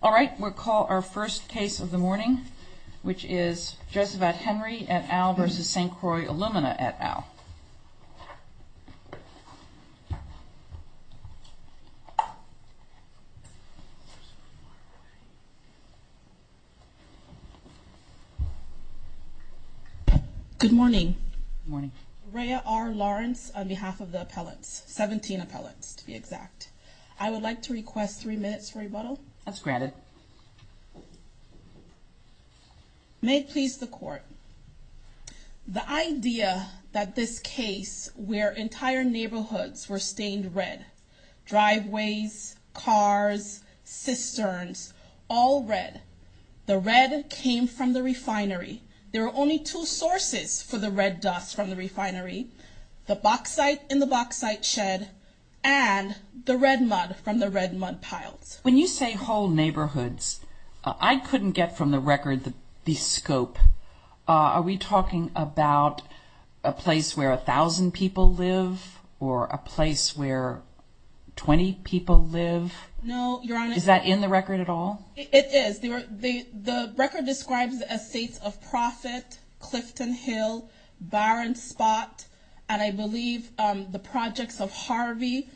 All right, we'll call our first case of the morning, which is Josephette Henry et al. versus St Croix Alumina et al. Good morning. Good morning. Rhea R. Lawrence on behalf of the appellants, 17 appellants to be exact. I would like to request three minutes for rebuttal. That's granted. May it please the court. The idea that this case where entire neighborhoods were stained red, driveways, cars, cisterns, all red. The red came from the refinery. There are only two sources for the red dust from the refinery, the bauxite in the bauxite shed, and the red mud from the red mud piles. When you say whole neighborhoods, I couldn't get from the record the scope. Are we talking about a place where 1000 people live or a place where 20 people live? Is that in the record at all? It is. The record describes the estates of Profit, Clifton Hill, Barron Spot. And I believe the projects of Harvey.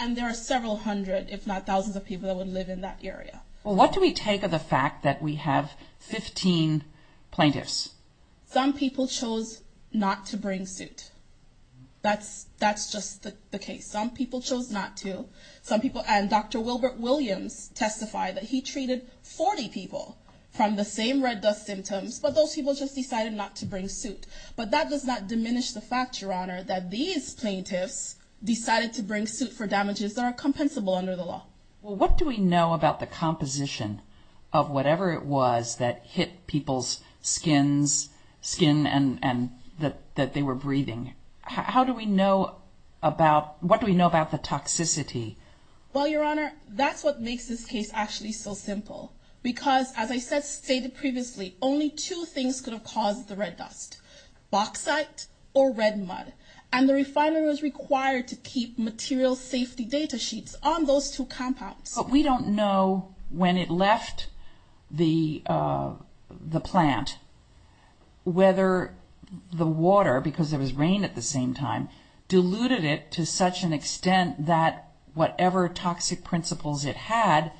And there are several hundred, if not thousands of people that would live in that area. Well, what do we take of the fact that we have 15 plaintiffs? Some people chose not to bring suit. That's just the case. Some people chose not to. And Dr. Wilbert Williams testified that he treated 40 people from the same red dust symptoms, but those people just decided not to bring suit. But that does not diminish the fact, Your Honor, that these plaintiffs decided to bring suit for damages that are compensable under the law. Well, what do we know about the composition of whatever it was that hit people's skins, skin and that they were breathing? How do we know about what do we know about the toxicity? Well, Your Honor, that's what makes this case actually so simple, because as I stated previously, only two things could have caused the red dust, bauxite or red mud. And the refiner was required to keep material safety data sheets on those two compounds. But we don't know when it left the plant, whether the water, because there was rain at the same time, diluted it to such an extent that whatever toxic principles it had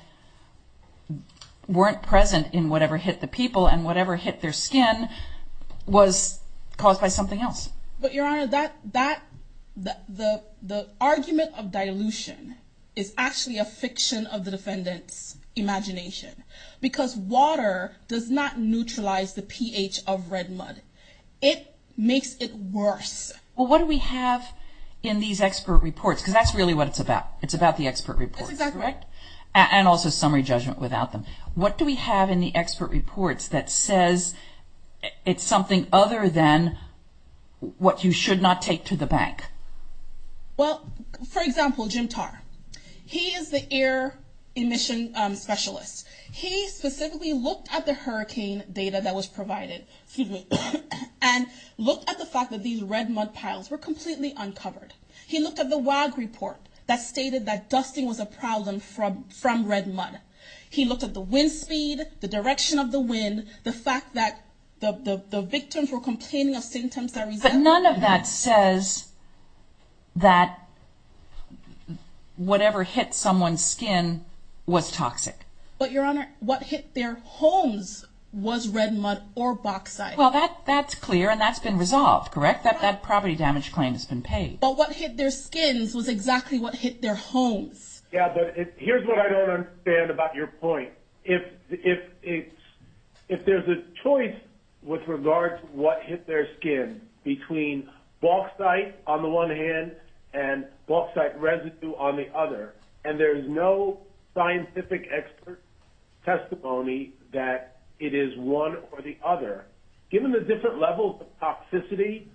weren't present in whatever hit the people and whatever hit their skin was caused by something else. But, Your Honor, the argument of dilution is actually a fiction of the defendant's imagination, because water does not neutralize the pH of red mud. It makes it worse. Well, what do we have in these expert reports? Because that's really what it's about. It's about the expert report. That's exactly right. And also summary judgment without them. What do we have in the expert reports that says it's something other than what you should not take to the bank? Well, for example, Jim Tarr, he is the air emission specialist. He specifically looked at the hurricane data that was provided and looked at the fact that these red mud piles were completely uncovered. He looked at the WAG report that stated that dusting was a problem from red mud. He looked at the wind speed, the direction of the wind, the fact that the victims were complaining of symptoms that resulted in... But none of that says that whatever hit someone's skin was toxic. But, Your Honor, what hit their homes was red mud or bauxite. Well, that's clear and that's been resolved, correct? That property damage claim has been paid. But what hit their skins was exactly what hit their homes. Yeah, but here's what I don't understand about your point. If there's a choice with regard to what hit their skin between bauxite on the one hand and bauxite residue on the other, and there's no scientific expert testimony that it is one or the other, given the different levels of toxicity,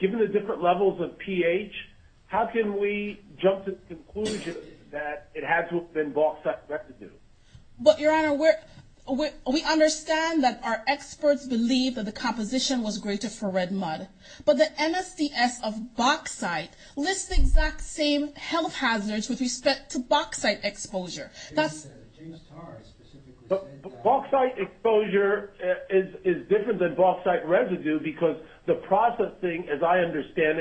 given the different levels of damage, how can we jump to the conclusion that it has to have been bauxite residue? But, Your Honor, we understand that our experts believe that the composition was greater for red mud, but the NSDS of bauxite lists the exact same health hazards with respect to bauxite exposure. Bauxite exposure is different than bauxite residue because the processing, as I understand,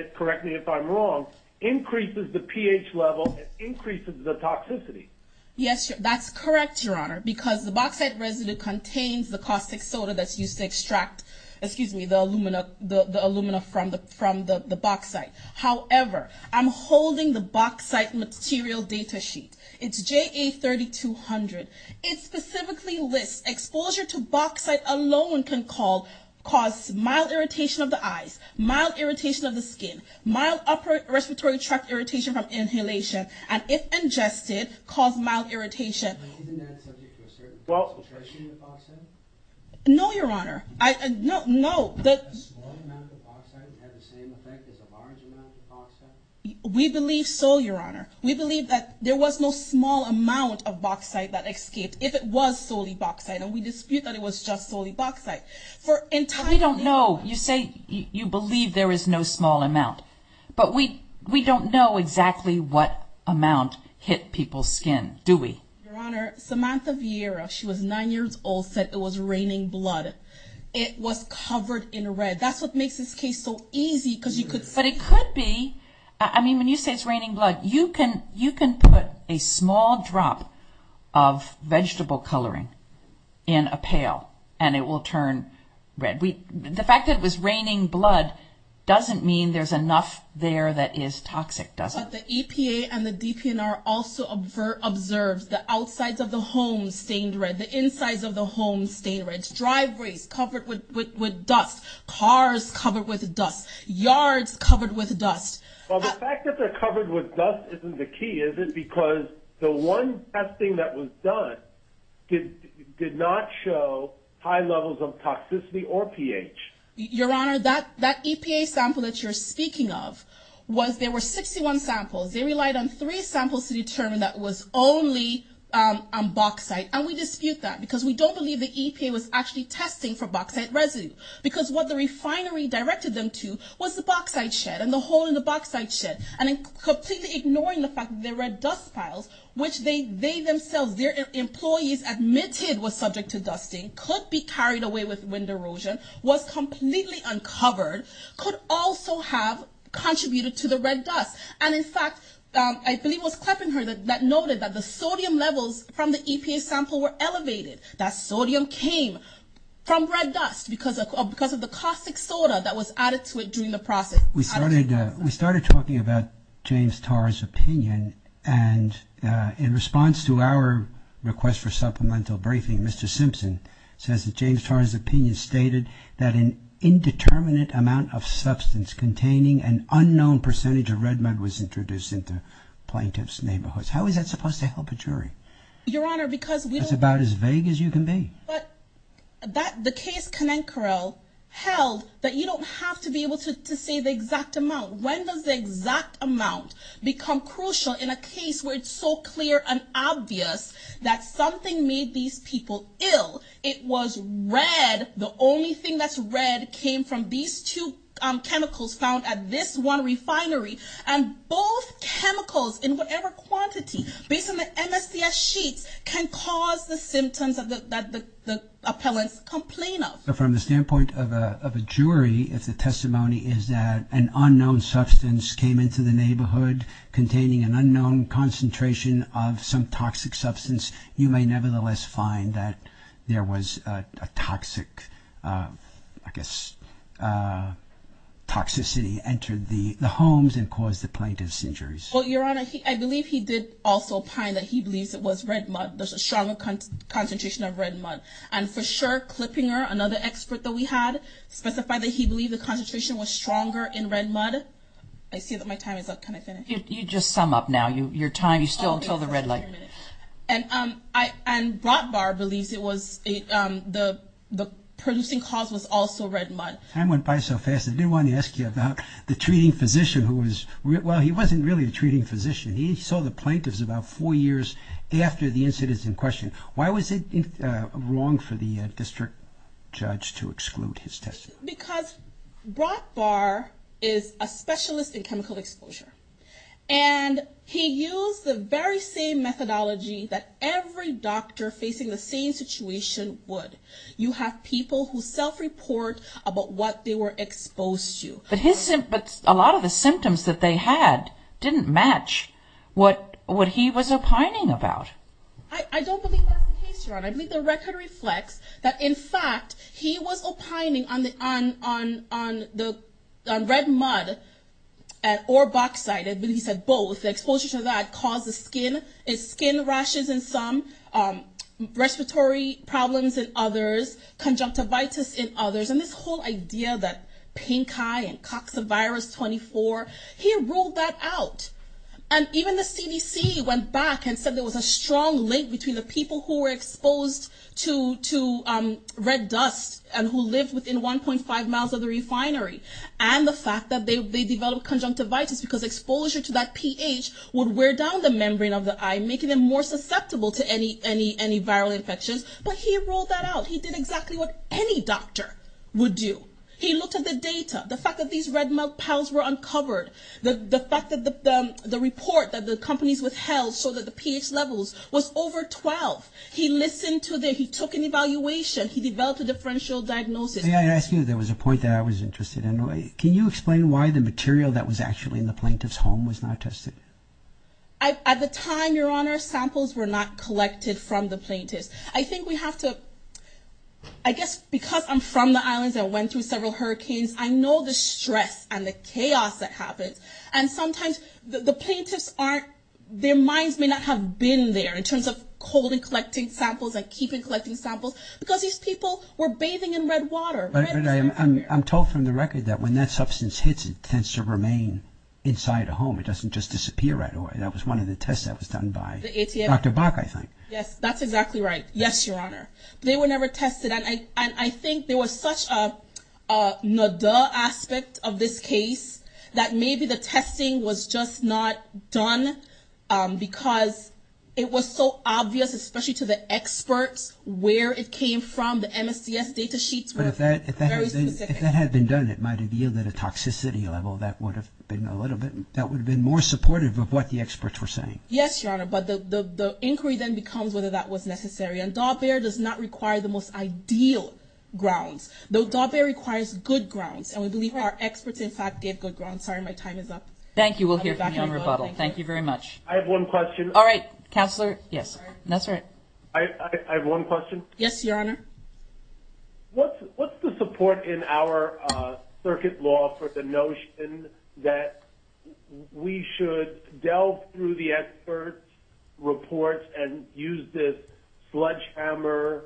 increases the pH level, increases the toxicity. Yes, that's correct, Your Honor, because the bauxite residue contains the caustic soda that's used to extract, excuse me, the alumina from the bauxite. However, I'm holding the bauxite material data sheet. It's JA3200. It specifically lists exposure to bauxite alone can cause mild irritation of the respiratory tract, irritation from inhalation, and if ingested, cause mild irritation. No, Your Honor, no, no. We believe so, Your Honor. We believe that there was no small amount of bauxite that escaped if it was solely bauxite, and we dispute that it was just solely bauxite. We don't know. You say you believe there is no small amount, but we don't know exactly what amount hit people's skin, do we? Your Honor, Samantha Vieira, she was nine years old, said it was raining blood. It was covered in red. That's what makes this case so easy because you could see. But it could be, I mean, when you say it's raining blood, you can put a small drop of vegetable coloring in a pail and it will turn red. The fact that it was raining blood doesn't mean there's enough there that is toxic, does it? But the EPA and the DPNR also observed the outsides of the homes stained red, the insides of the homes stained red, driveways covered with dust, cars covered with dust, yards covered with dust. Well, the fact that they're covered with dust isn't the key, is it? Because the one testing that was done did not show high levels of toxicity or EPA. Your Honor, that that EPA sample that you're speaking of was there were 61 samples. They relied on three samples to determine that was only on bauxite. And we dispute that because we don't believe the EPA was actually testing for bauxite residue because what the refinery directed them to was the bauxite shed and the hole in the bauxite shed. And in completely ignoring the fact that there are dust piles, which they themselves, their employees admitted was subject to dusting, could be carried away with wind erosion, was completely uncovered, could also have contributed to the red dust. And in fact, I believe it was Kleppinger that noted that the sodium levels from the EPA sample were elevated, that sodium came from red dust because of the caustic soda that was added to it during the process. We started we started talking about James Tarr's opinion. And in response to our request for supplemental briefing, Mr. Tarr's opinion stated that an indeterminate amount of substance containing an unknown percentage of red mud was introduced into plaintiff's neighborhoods. How is that supposed to help a jury? Your Honor, because it's about as vague as you can be. But that the case Conenquerel held that you don't have to be able to say the exact amount. When does the exact amount become crucial in a case where it's so clear and obvious that something made these people ill? It was red. The only thing that's red came from these two chemicals found at this one refinery. And both chemicals in whatever quantity, based on the MSCS sheets, can cause the symptoms that the appellants complain of. From the standpoint of a jury, if the testimony is that an unknown substance came into the neighborhood containing an unknown concentration of some toxic substance, you may nevertheless find that there was a toxic, I guess, toxicity entered the homes and caused the plaintiff's injuries. Well, Your Honor, I believe he did also opine that he believes it was red mud. There's a stronger concentration of red mud. And for sure, Klippinger, another expert that we had, specified that he believed the concentration was stronger in red mud. I see that my time is up. Can I finish? You just sum up now your time. You still until the red light. And Brotbar believes the producing cause was also red mud. Time went by so fast, I didn't want to ask you about the treating physician who was, well, he wasn't really a treating physician. He saw the plaintiffs about four years after the incident is in question. Why was it wrong for the district judge to exclude his testimony? Because Brotbar is a specialist in chemical exposure. And he used the very same methodology that every doctor facing the same situation would. You have people who self-report about what they were exposed to. But a lot of the symptoms that they had didn't match what he was opining about. I don't believe that's the case, Your Honor. I believe the record reflects that, in fact, he was opining on the red mud or bauxite. I believe he said both. The exposure to that causes skin rashes in some, respiratory problems in others, conjunctivitis in others. And this whole idea that pink eye and coxivirus 24, he ruled that out. And even the CDC went back and said there was a strong link between the people who were exposed to red dust and who lived within 1.5 miles of the refinery and the fact that they developed conjunctivitis because exposure to that pH would wear down the membrane of the eye, making them more susceptible to any viral infections. But he ruled that out. He did exactly what any doctor would do. He looked at the data, the fact that these red mud piles were uncovered, the fact that the report that the companies withheld so that the pH levels was over 12. He listened to that. He took an evaluation. He developed a differential diagnosis. May I ask you, there was a point that I was interested in. Can you explain why the material that was actually in the plaintiff's home was not tested? At the time, Your Honor, samples were not collected from the plaintiffs. I think we have to, I guess because I'm from the islands, I went through several hurricanes. I know the stress and the chaos that happens. And sometimes the plaintiffs aren't, their minds may not have been there in terms of holding, collecting samples and keeping collecting samples because these people were bathing in red water. I'm told from the record that when that substance hits, it tends to remain inside a home. It doesn't just disappear right away. That was one of the tests that was done by Dr. Bach, I think. Yes, that's exactly right. Yes, Your Honor. They were never tested. And I think there was such a no duh aspect of this case that maybe the testing was just not done because it was so obvious, especially to the experts, where it came from. The MSDS data sheets were very specific. If that had been done, it might have yielded a toxicity level that would have been a little bit, that would have been more supportive of what the experts were saying. Yes, Your Honor. But the inquiry then becomes whether that was necessary. And Dog Bear does not require the most ideal grounds. Dog Bear requires good grounds. And we believe our experts, in fact, gave good grounds. Sorry, my time is up. Thank you. We'll hear from you on rebuttal. Thank you very much. I have one question. All right, Counselor. Yes, that's right. I have one question. Yes, Your Honor. What's the support in our circuit law for the notion that we should delve through the experts' reports and use this sledgehammer,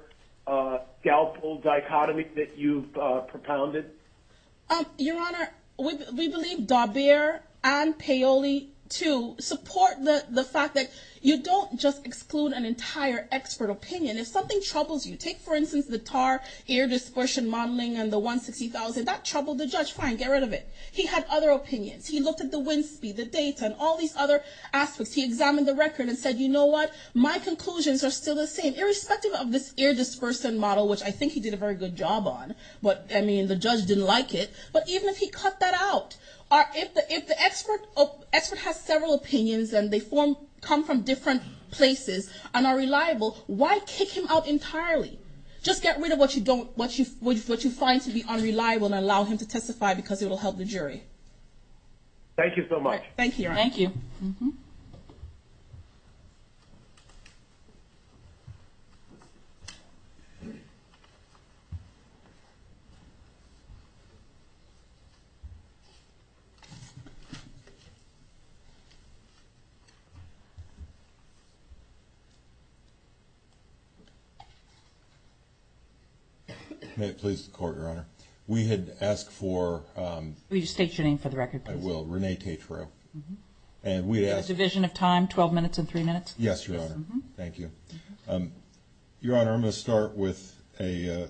scalpel dichotomy that you've propounded? Your Honor, we believe Dog Bear and Paoli, too, support the fact that you don't just exclude an entire expert opinion. If something troubles you, take, for instance, the TAR ear dispersion modeling and the 160,000, that troubled the judge. Fine, get rid of it. He had other opinions. He looked at the wind speed, the data and all these other aspects. He examined the record and said, you know what, my conclusions are still the same, irrespective of this ear dispersion model, which I think he did a very good job on. But I mean, the judge didn't like it. But even if he cut that out, if the expert has several opinions and they come from different places and are reliable, why kick him out entirely? Just get rid of what you find to be unreliable and allow him to testify because it will help the jury. Thank you so much. Thank you. Thank you. May it please the court, Your Honor. We had asked for. Will you state your name for the record, please? I will. Renee Tatro. And we'd asked. Division of time, 12 minutes and three minutes. Yes, Your Honor. Thank you. Um, Your Honor, I'm going to start with a, uh,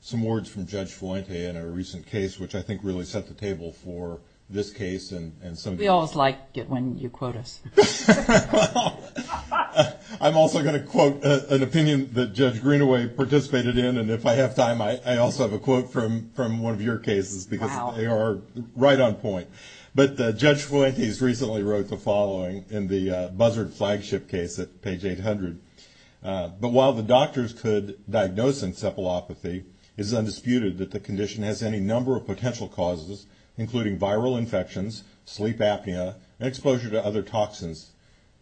some words from Judge Fuente in a recent case, which I think really set the table for this case. And, and so we always like it when you quote us, I'm also going to quote an opinion that Judge Greenaway participated in. And if I have time, I also have a quote from, from one of your cases because they are right on point. But, uh, Judge Fuente recently wrote the following in the, uh, buzzard flagship case at page 800. Uh, but while the doctors could diagnose encephalopathy, it is undisputed that the condition has any number of potential causes, including viral infections, sleep apnea, and exposure to other toxins,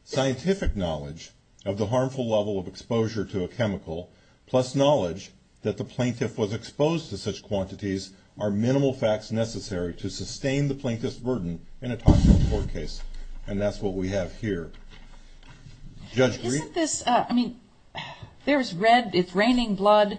scientific knowledge of the harmful level of exposure to a chemical, plus knowledge that the plaintiff was exposed to such quantities are minimal facts necessary to sustain the plaintiff's burden in a toxic report case. And that's what we have here. Judge Greenaway. Isn't this, uh, I mean, there's red, it's raining blood.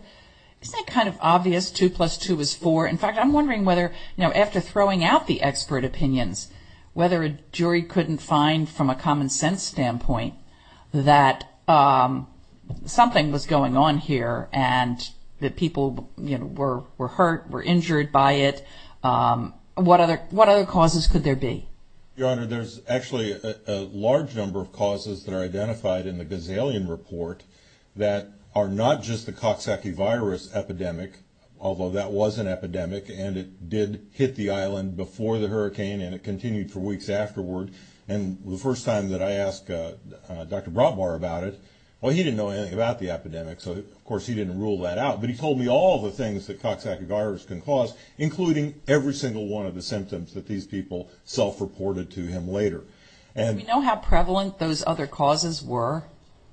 Isn't that kind of obvious? Two plus two is four. In fact, I'm wondering whether, you know, after throwing out the expert opinions, whether a jury couldn't find from a common sense standpoint that, um, something was going on here and that people, you know, were, were hurt, were injured by it. Um, what other, what other causes could there be? Your Honor, there's actually a large number of causes that are in the gazillion report that are not just the Coxsackie virus epidemic, although that was an epidemic and it did hit the Island before the hurricane. And it continued for weeks afterward. And the first time that I asked, uh, uh, Dr. Bratbar about it, well, he didn't know anything about the epidemic. So of course he didn't rule that out, but he told me all the things that Coxsackie virus can cause, including every single one of the symptoms that these people self-reported to him later. And we know how prevalent those other causes were.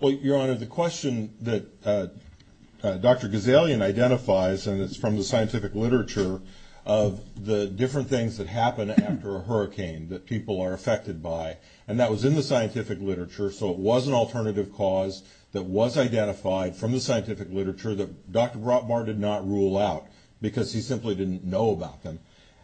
Well, Your Honor, the question that, uh, uh, Dr. Gazillion identifies, and it's from the scientific literature of the different things that happen after a hurricane that people are affected by. And that was in the scientific literature. So it was an alternative cause that was identified from the scientific literature that Dr. Bratbar did not rule out because he simply didn't know about them.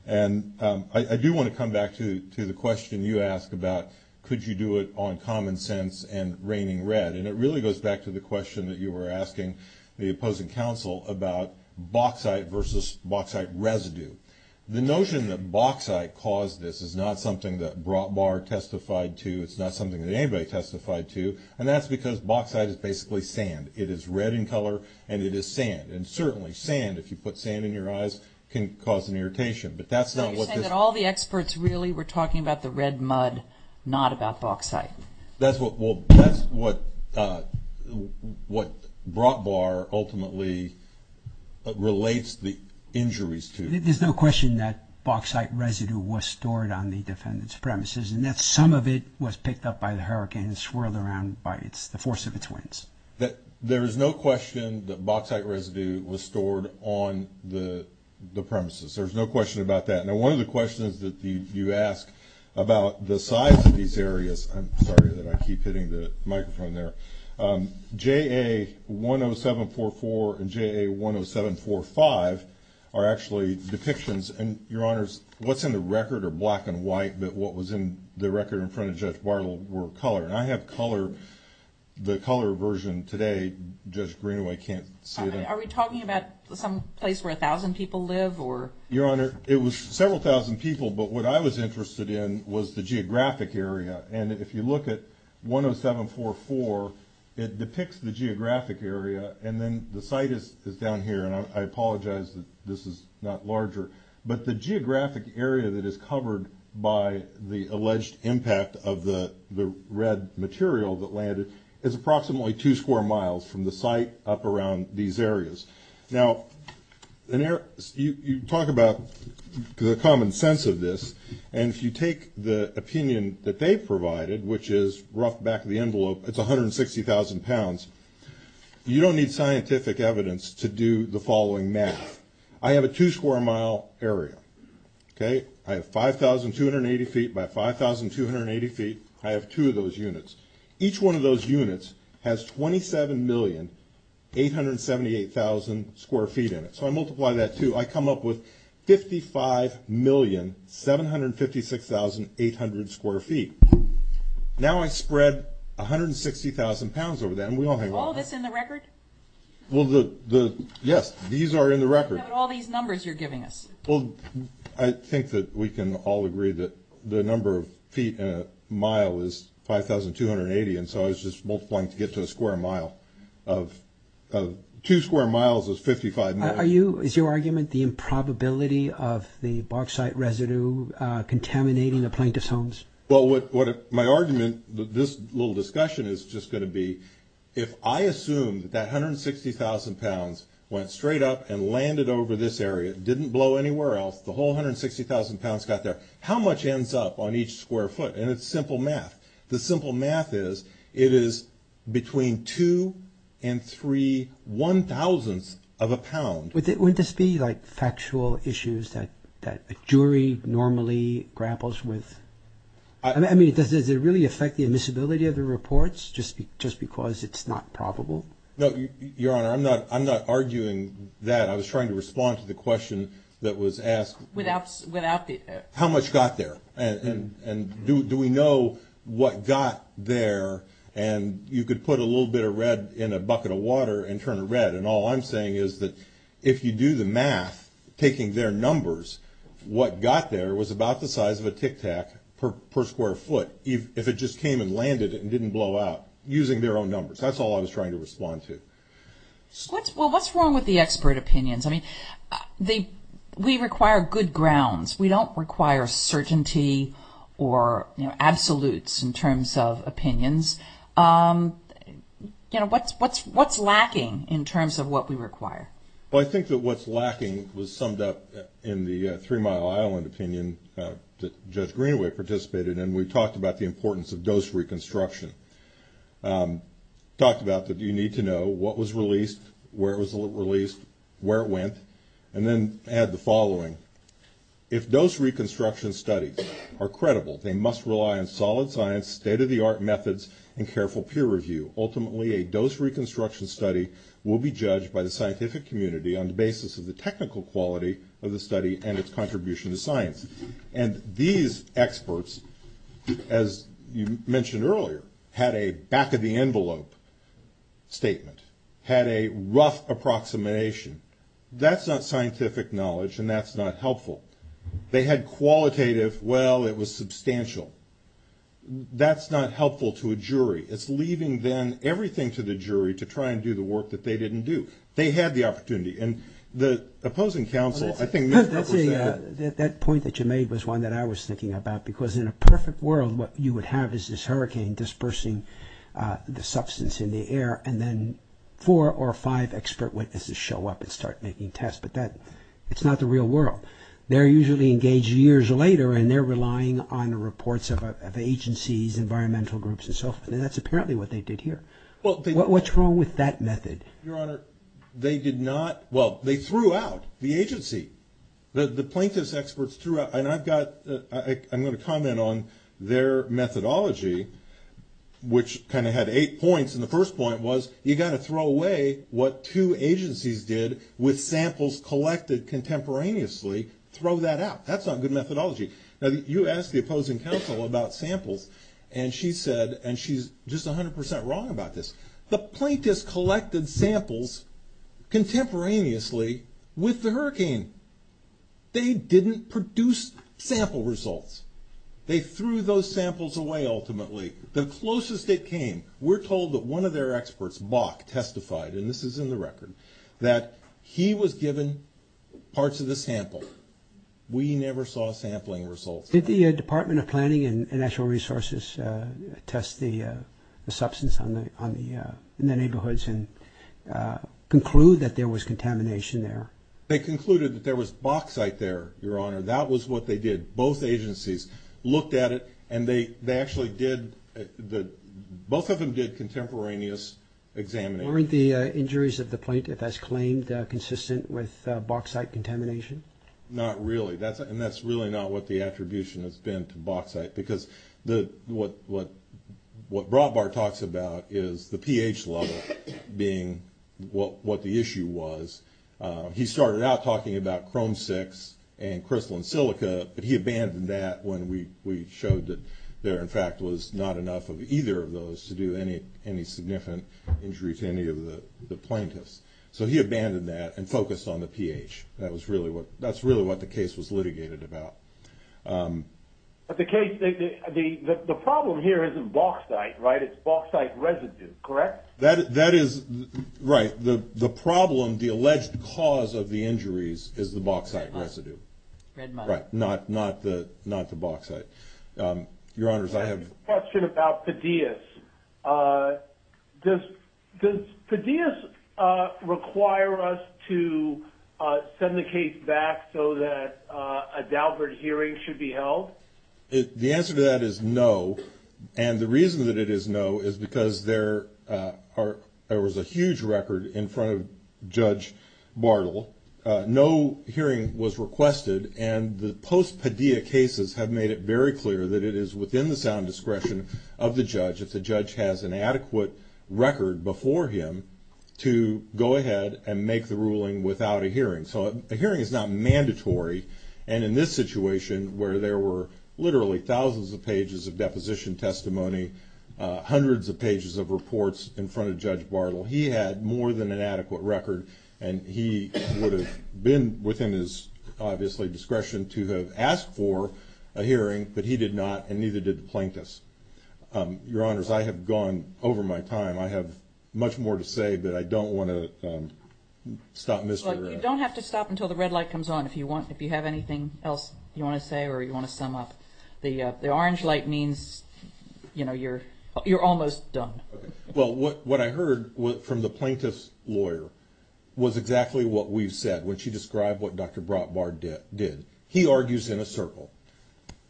And, um, I, I do want to come back to, to the question you asked about, could you do it on common sense and raining red? And it really goes back to the question that you were asking the opposing counsel about bauxite versus bauxite residue. The notion that bauxite caused, this is not something that brought bar testified to, it's not something that anybody testified to, and that's because bauxite is basically sand. It is red in color and it is sand. And certainly sand, if you put sand in your eyes can cause an irritation, but that's not what all the experts really were talking about. The red mud, not about bauxite. That's what, well, that's what, uh, what brought bar ultimately relates the injuries to, there's no question that bauxite residue was stored on the defendant's premises and that some of it was picked up by the hurricane and swirled around by it's the force of its winds that there is no question that bauxite residue was stored on the premises. There's no question about that. Now, one of the questions that you ask about the size of these areas, I'm sorry that I keep hitting the microphone there. Um, JA 10744 and JA 10745 are actually depictions and your honors, what's in the record or black and white, but what was in the record in front of judge Bartle were color and I have color. The color version today, judge Greenway can't say that. Are we talking about some place where a thousand people live or your honor, it was several thousand people. But what I was interested in was the geographic area. And if you look at 10744, it depicts the geographic area and then the site is, is down here. And I apologize that this is not larger, but the geographic area that is covered by the alleged impact of the red material that landed is approximately two square miles from the site up around these areas. Now, you talk about the common sense of this, and if you take the opinion that they've provided, which is rough back of the envelope, it's 160,000 pounds. You don't need scientific evidence to do the following math. I have a two square mile area. Okay. I have 5,280 feet by 5,280 feet. I have two of those units. Each one of those units has 27,878,000 square feet in it. So I multiply that too. I come up with 55,756,800 square feet. Now I spread 160,000 pounds over them. We all have all this in the record. Well, the, the, yes, these are in the record, all these numbers you're giving us. Well, I think that we can all agree that the number of feet in a mile is 5,280. And so I was just multiplying to get to a square mile of two square miles is 55. Are you, is your argument the improbability of the bauxite residue contaminating the plaintiff's homes? Well, what, what my argument, this little discussion is just going to be, if I the whole 160,000 pounds got there, how much ends up on each square foot? And it's simple math. The simple math is it is between two and three one thousandths of a pound. Would it, wouldn't this be like factual issues that, that a jury normally grapples with? I mean, does it really affect the admissibility of the reports just because it's not probable? No, Your Honor. I'm not, I'm not arguing that. I was trying to respond to the question that was asked without, without the, how much got there and, and do, do we know what got there? And you could put a little bit of red in a bucket of water and turn it red. And all I'm saying is that if you do the math, taking their numbers, what got there was about the size of a tic-tac per, per square foot, if it just came and landed and didn't blow out using their own numbers. That's all I was trying to respond to. So what's, well, what's wrong with the expert opinions? I mean, the, we require good grounds. We don't require certainty or absolutes in terms of opinions. You know, what's, what's, what's lacking in terms of what we require? Well, I think that what's lacking was summed up in the Three Mile Island opinion that Judge Greenaway participated in. We talked about the importance of dose reconstruction. Talked about the, you need to know what was released, where it was released, where it went, and then add the following. If dose reconstruction studies are credible, they must rely on solid science, state-of-the-art methods, and careful peer review. Ultimately, a dose reconstruction study will be judged by the scientific community on the basis of the technical quality of the study and its contribution to science. And these experts, as you mentioned earlier, had a back-of-the-envelope statement, had a rough approximation. That's not scientific knowledge and that's not helpful. They had qualitative, well, it was substantial. That's not helpful to a jury. It's leaving then everything to the jury to try and do the work that they didn't do. They had the opportunity. And the opposing counsel, I think, was one that I was thinking about because in a perfect world, what you would have is this hurricane dispersing the substance in the air and then four or five expert witnesses show up and start making tests. But that, it's not the real world. They're usually engaged years later and they're relying on reports of agencies, environmental groups, and so forth. And that's apparently what they did here. Well, what's wrong with that method? Your Honor, they did not, well, they threw out the agency. The plaintiff's experts threw out, and I've got, I'm going to comment on their methodology, which kind of had eight points. And the first point was, you got to throw away what two agencies did with samples collected contemporaneously, throw that out. That's not good methodology. Now, you asked the opposing counsel about samples and she said, and she's just 100% wrong about this, the plaintiff's collected samples contemporaneously with the agency, they didn't produce sample results. They threw those samples away. Ultimately, the closest it came, we're told that one of their experts, Bach, testified, and this is in the record, that he was given parts of the sample. We never saw sampling results. Did the Department of Planning and Natural Resources test the substance on the, on the, in the neighborhoods and conclude that there was contamination there? They concluded that there was bauxite there, Your Honor. That was what they did. Both agencies looked at it and they, they actually did the, both of them did contemporaneous examination. Weren't the injuries of the plaintiff as claimed consistent with bauxite contamination? Not really. That's, and that's really not what the attribution has been to bauxite because the, what, what, what Broadbar talks about is the pH level being what, what the issue was. He started out talking about chrome six and crystalline silica, but he abandoned that when we, we showed that there, in fact, was not enough of either of those to do any, any significant injuries to any of the, the plaintiffs. So he abandoned that and focused on the pH. That was really what, that's really what the case was litigated about. But the case, the, the, the, the problem here isn't bauxite, right? It's bauxite residue, correct? That, that is right. The, the problem, the alleged cause of the injuries is the bauxite residue. Red money. Right. Not, not the, not the bauxite. Your honors, I have a question about PDS. Does, does PDS require us to send the case back so that a Daubert hearing should be held? The answer to that is no. And the reason that it is no is because there are, there was a huge record in front of judge Bartle. No hearing was requested. And the post-PDS cases have made it very clear that it is within the sound discretion of the judge. If the judge has an adequate record before him to go ahead and make the ruling without a hearing. So a hearing is not mandatory. And in this situation where there were literally thousands of pages of deposition testimony, hundreds of pages of reports in front of judge Bartle, he had more than an adequate record. And he would have been within his obviously discretion to have asked for a hearing, but he did not. And neither did the plaintiffs. Your honors, I have gone over my time. I have much more to say, but I don't want to stop Mr. You don't have to stop until the red light comes on. If you want, if you have anything else you want to say, or you want to sum up the, uh, the orange light means, you know, you're, you're almost done. Well, what, what I heard from the plaintiff's lawyer was exactly what we've said when she described what Dr. Brotbar did, he argues in a circle.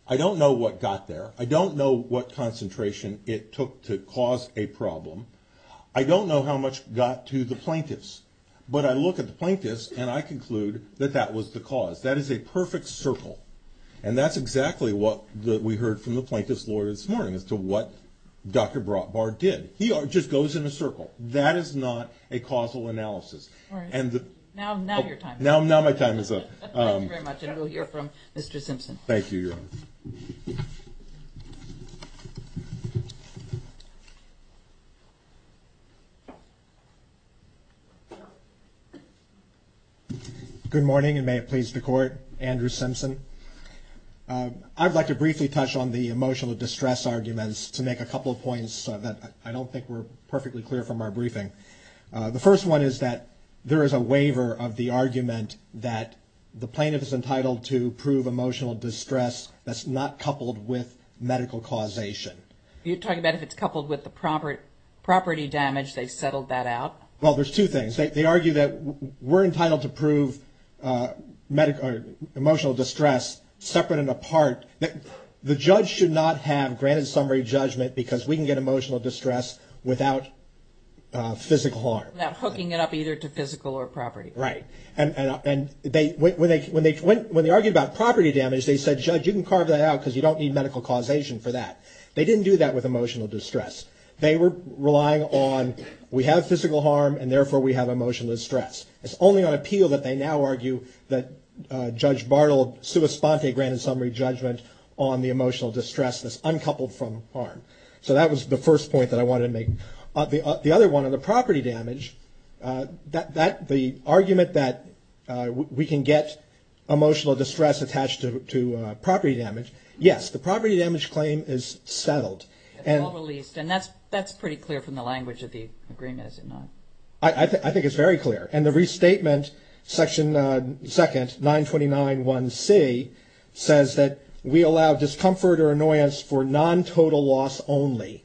I don't know what got there. I don't know what concentration it took to cause a problem. I don't know how much got to the plaintiffs, but I look at the plaintiffs and I conclude that that was the cause that is a perfect circle. And that's exactly what the, we heard from the plaintiff's lawyer this morning as to what Dr. Brotbar did, he just goes in a circle. That is not a causal analysis. And now, now your time. Now, now my time is up. Thank you very much. And we'll hear from Mr. Simpson. Thank you. Good morning. And may it please the court, Andrew Simpson. Um, I'd like to briefly touch on the emotional distress arguments to make a couple of points that I don't think we're perfectly clear from our briefing. Uh, the first one is that there is a waiver of the argument that the plaintiff is entitled to prove emotional distress that's not coupled with medical causation. You're talking about if it's coupled with the property, property damage, they settled that out. Well, there's two things. They argue that we're entitled to prove, uh, medical or emotional distress separate and apart. The judge should not have granted summary judgment because we can get emotional distress without, uh, physical harm. Not hooking it up either to physical or property. Right. And, and, and they, when they, when they, when, when they argued about property damage, they said, judge, you can carve that out because you don't need medical causation for that. They didn't do that with emotional distress. They were relying on, we have physical harm and therefore we have emotional distress. It's only on appeal that they now argue that, uh, judge Bartle, sua sponte granted summary judgment on the emotional distress that's uncoupled from harm. So that was the first point that I wanted to make. Uh, the, uh, the other one on the property damage, uh, that, that the argument that, uh, we can get emotional distress attached to, to, uh, property damage, yes, the property damage claim is settled and released. And that's, that's pretty clear from the language of the agreement, is it not? I think it's very clear. And the restatement section, uh, second 929.1c says that we allow discomfort or annoyance for non-total loss only.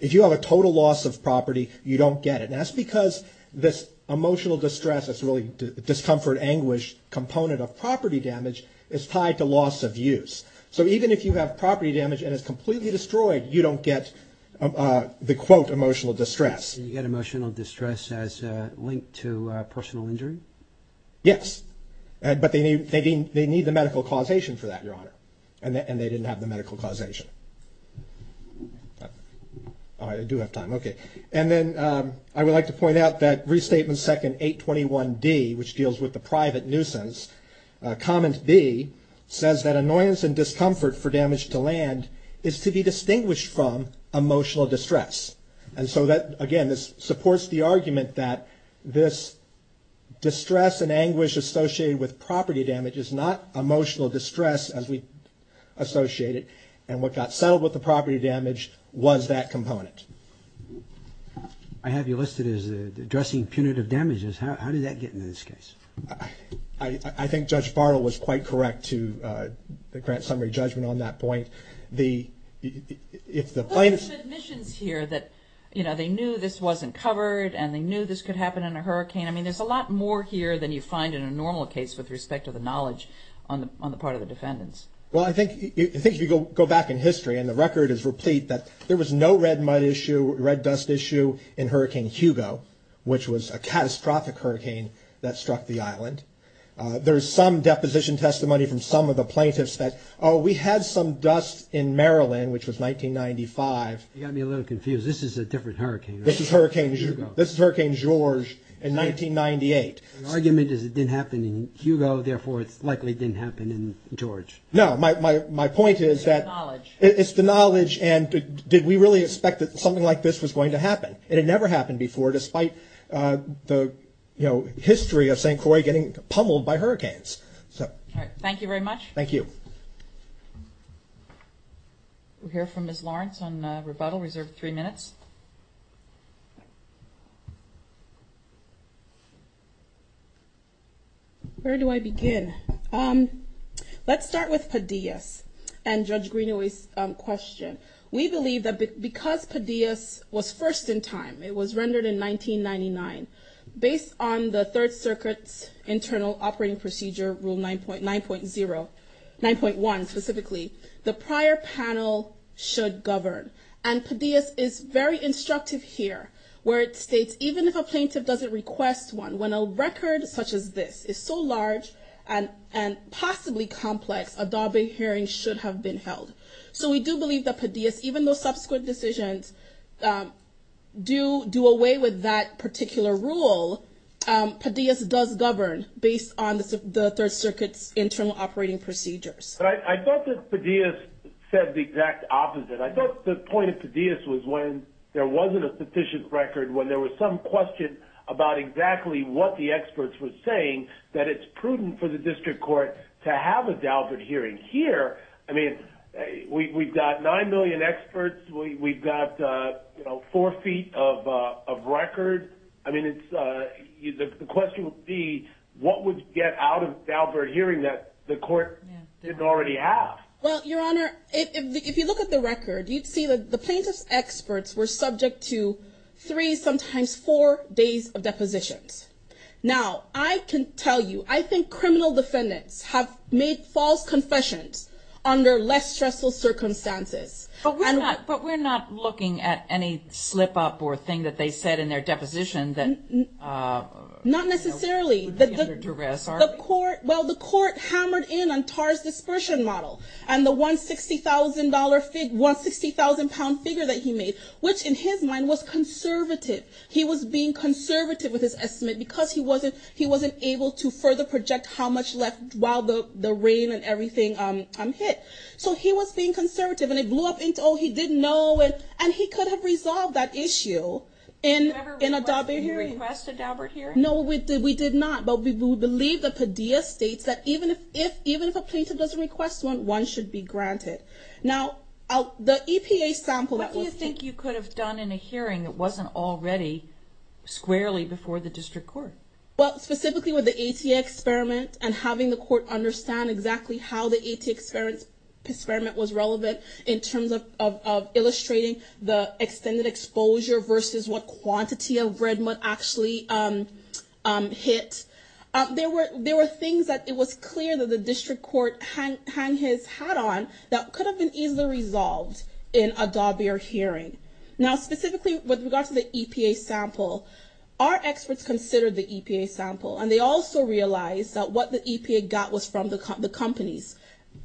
If you have a total loss of property, you don't get it. And that's because this emotional distress is really discomfort, anguish component of property damage is tied to loss of use. So even if you have property damage and it's completely destroyed, you don't get, uh, the quote, emotional distress. Did you get emotional distress as a link to a personal injury? Yes. And, but they need, they need, they need the medical causation for that, Your Honor, and that, and they didn't have the medical causation. Oh, I do have time. Okay. And then, um, I would like to point out that restatement second 821d, which deals with the private nuisance, uh, comment B says that annoyance and emotional distress. And so that, again, this supports the argument that this distress and anguish associated with property damage is not emotional distress as we associate it and what got settled with the property damage was that component. I have you listed as addressing punitive damages. How did that get into this case? I think Judge Bartle was quite correct to, uh, the grant summary judgment on that point, the, if the plain admissions here that, you know, they knew this wasn't covered and they knew this could happen in a hurricane. I mean, there's a lot more here than you find in a normal case with respect to the knowledge on the, on the part of the defendants. Well, I think, I think if you go back in history and the record is replete, that there was no red mud issue, red dust issue in hurricane Hugo, which was a catastrophic hurricane that struck the Island. Uh, there's some deposition testimony from some of the plaintiffs that, oh, we had some dust in Maryland, which was 1995. You got me a little confused. This is a different hurricane. This is hurricane, this is hurricane George in 1998. The argument is it didn't happen in Hugo. Therefore, it's likely it didn't happen in George. No, my, my, my point is that it's the knowledge. And did we really expect that something like this was going to happen? It had never happened before, despite, uh, the, you know, history of St. Croix getting pummeled by hurricanes. So thank you very much. Thank you. We'll hear from Ms. Lawrence on a rebuttal reserved three minutes. Where do I begin? Um, let's start with Padillas and Judge Greenaway's question. We believe that because Padillas was first in time, it was rendered in 1999 based on the third circuit's internal operating procedure, rule 9.9.0. 9.1 specifically, the prior panel should govern. And Padillas is very instructive here where it states, even if a plaintiff doesn't request one, when a record such as this is so large and, and possibly complex, a Darby hearing should have been held. So we do believe that Padillas, even though subsequent decisions, um, do, do away with that particular rule, um, Padillas does govern based on the third circuit's internal operating procedures. I thought that Padillas said the exact opposite. I thought the point of Padillas was when there wasn't a sufficient record, when there was some question about exactly what the experts were saying, that it's prudent for the district court to have a Dalbert hearing here. I mean, we, we've got 9 million experts. We, we've got, uh, you know, four feet of, uh, of record. I mean, it's, uh, the question would be what would get out of Dalbert hearing that the court didn't already have? Well, Your Honor, if you look at the record, you'd see that the plaintiff's experts were subject to three, sometimes four days of depositions. Now I can tell you, I think criminal defendants have made false confessions under less stressful circumstances. But we're not, but we're not looking at any slip up or thing that they said in their deposition that, uh, not necessarily the court. Well, the court hammered in on Tarr's dispersion model and the one $60,000 figure, one 60,000 pound figure that he made, which in his mind was conservative. He was being conservative with his estimate because he wasn't, he wasn't able to further project how much left while the rain and everything, um, um, hit, so he was being conservative and it blew up into, oh, he didn't know. And he could have resolved that issue in a Dalbert hearing. Did you ever request a Dalbert hearing? No, we did. We did not. But we believe that Padilla states that even if, if, even if a plaintiff doesn't request one, one should be granted. Now the EPA sample. What do you think you could have done in a hearing that wasn't already squarely before the district court? Well, specifically with the ATA experiment and having the court understand exactly how the ATA experiment was relevant in terms of, of, of illustrating the extended exposure versus what quantity of red mud actually, um, um, hit, uh, there were, there were things that it was clear that the district court hang, hang his hat on that could have been easily resolved in a Dalbert hearing. Now, specifically with regards to the EPA sample, our experts considered the EPA sample and they also realized that what the EPA got was from the, the companies.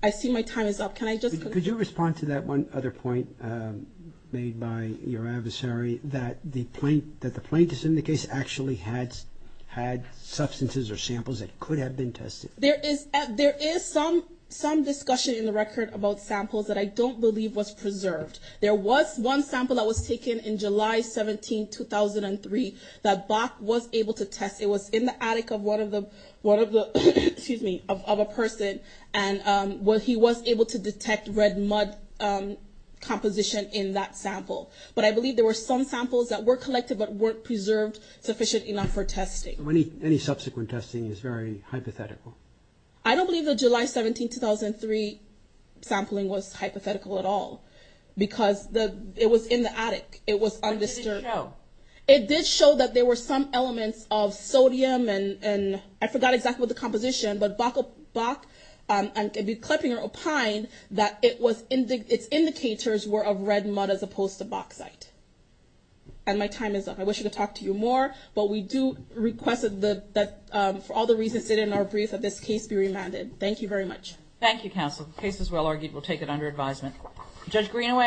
I see my time is up. Can I just, could you respond to that? One other point, um, made by your adversary that the point that the plaintiff's in the case actually had, had substances or samples that could have been tested. There is, there is some, some discussion in the record about samples that I don't believe was preserved. There was one sample that was taken in July 17, 2003, that Bach was able to test. It was in the attic of one of the, one of the, excuse me, of, of a person. And, um, what he was able to detect red mud, um, composition in that sample. But I believe there were some samples that were collected, but weren't preserved sufficient enough for testing. Any subsequent testing is very hypothetical. I don't believe the July 17, 2003 sampling was hypothetical at all because the, it was in the attic. It was undisturbed. It did show that there were some elements of sodium and, and I forgot exactly what the composition, but Bach, Bach, um, Kleppinger, or Pine, that it was, its indicators were of red mud as opposed to bauxite. And my time is up. I wish I could talk to you more, but we do request that, that, um, for all the reasons stated in our brief, that this case be remanded. Thank you very much. Thank you, counsel. The case is well argued. We'll take it under advisement. Judge Greenaway.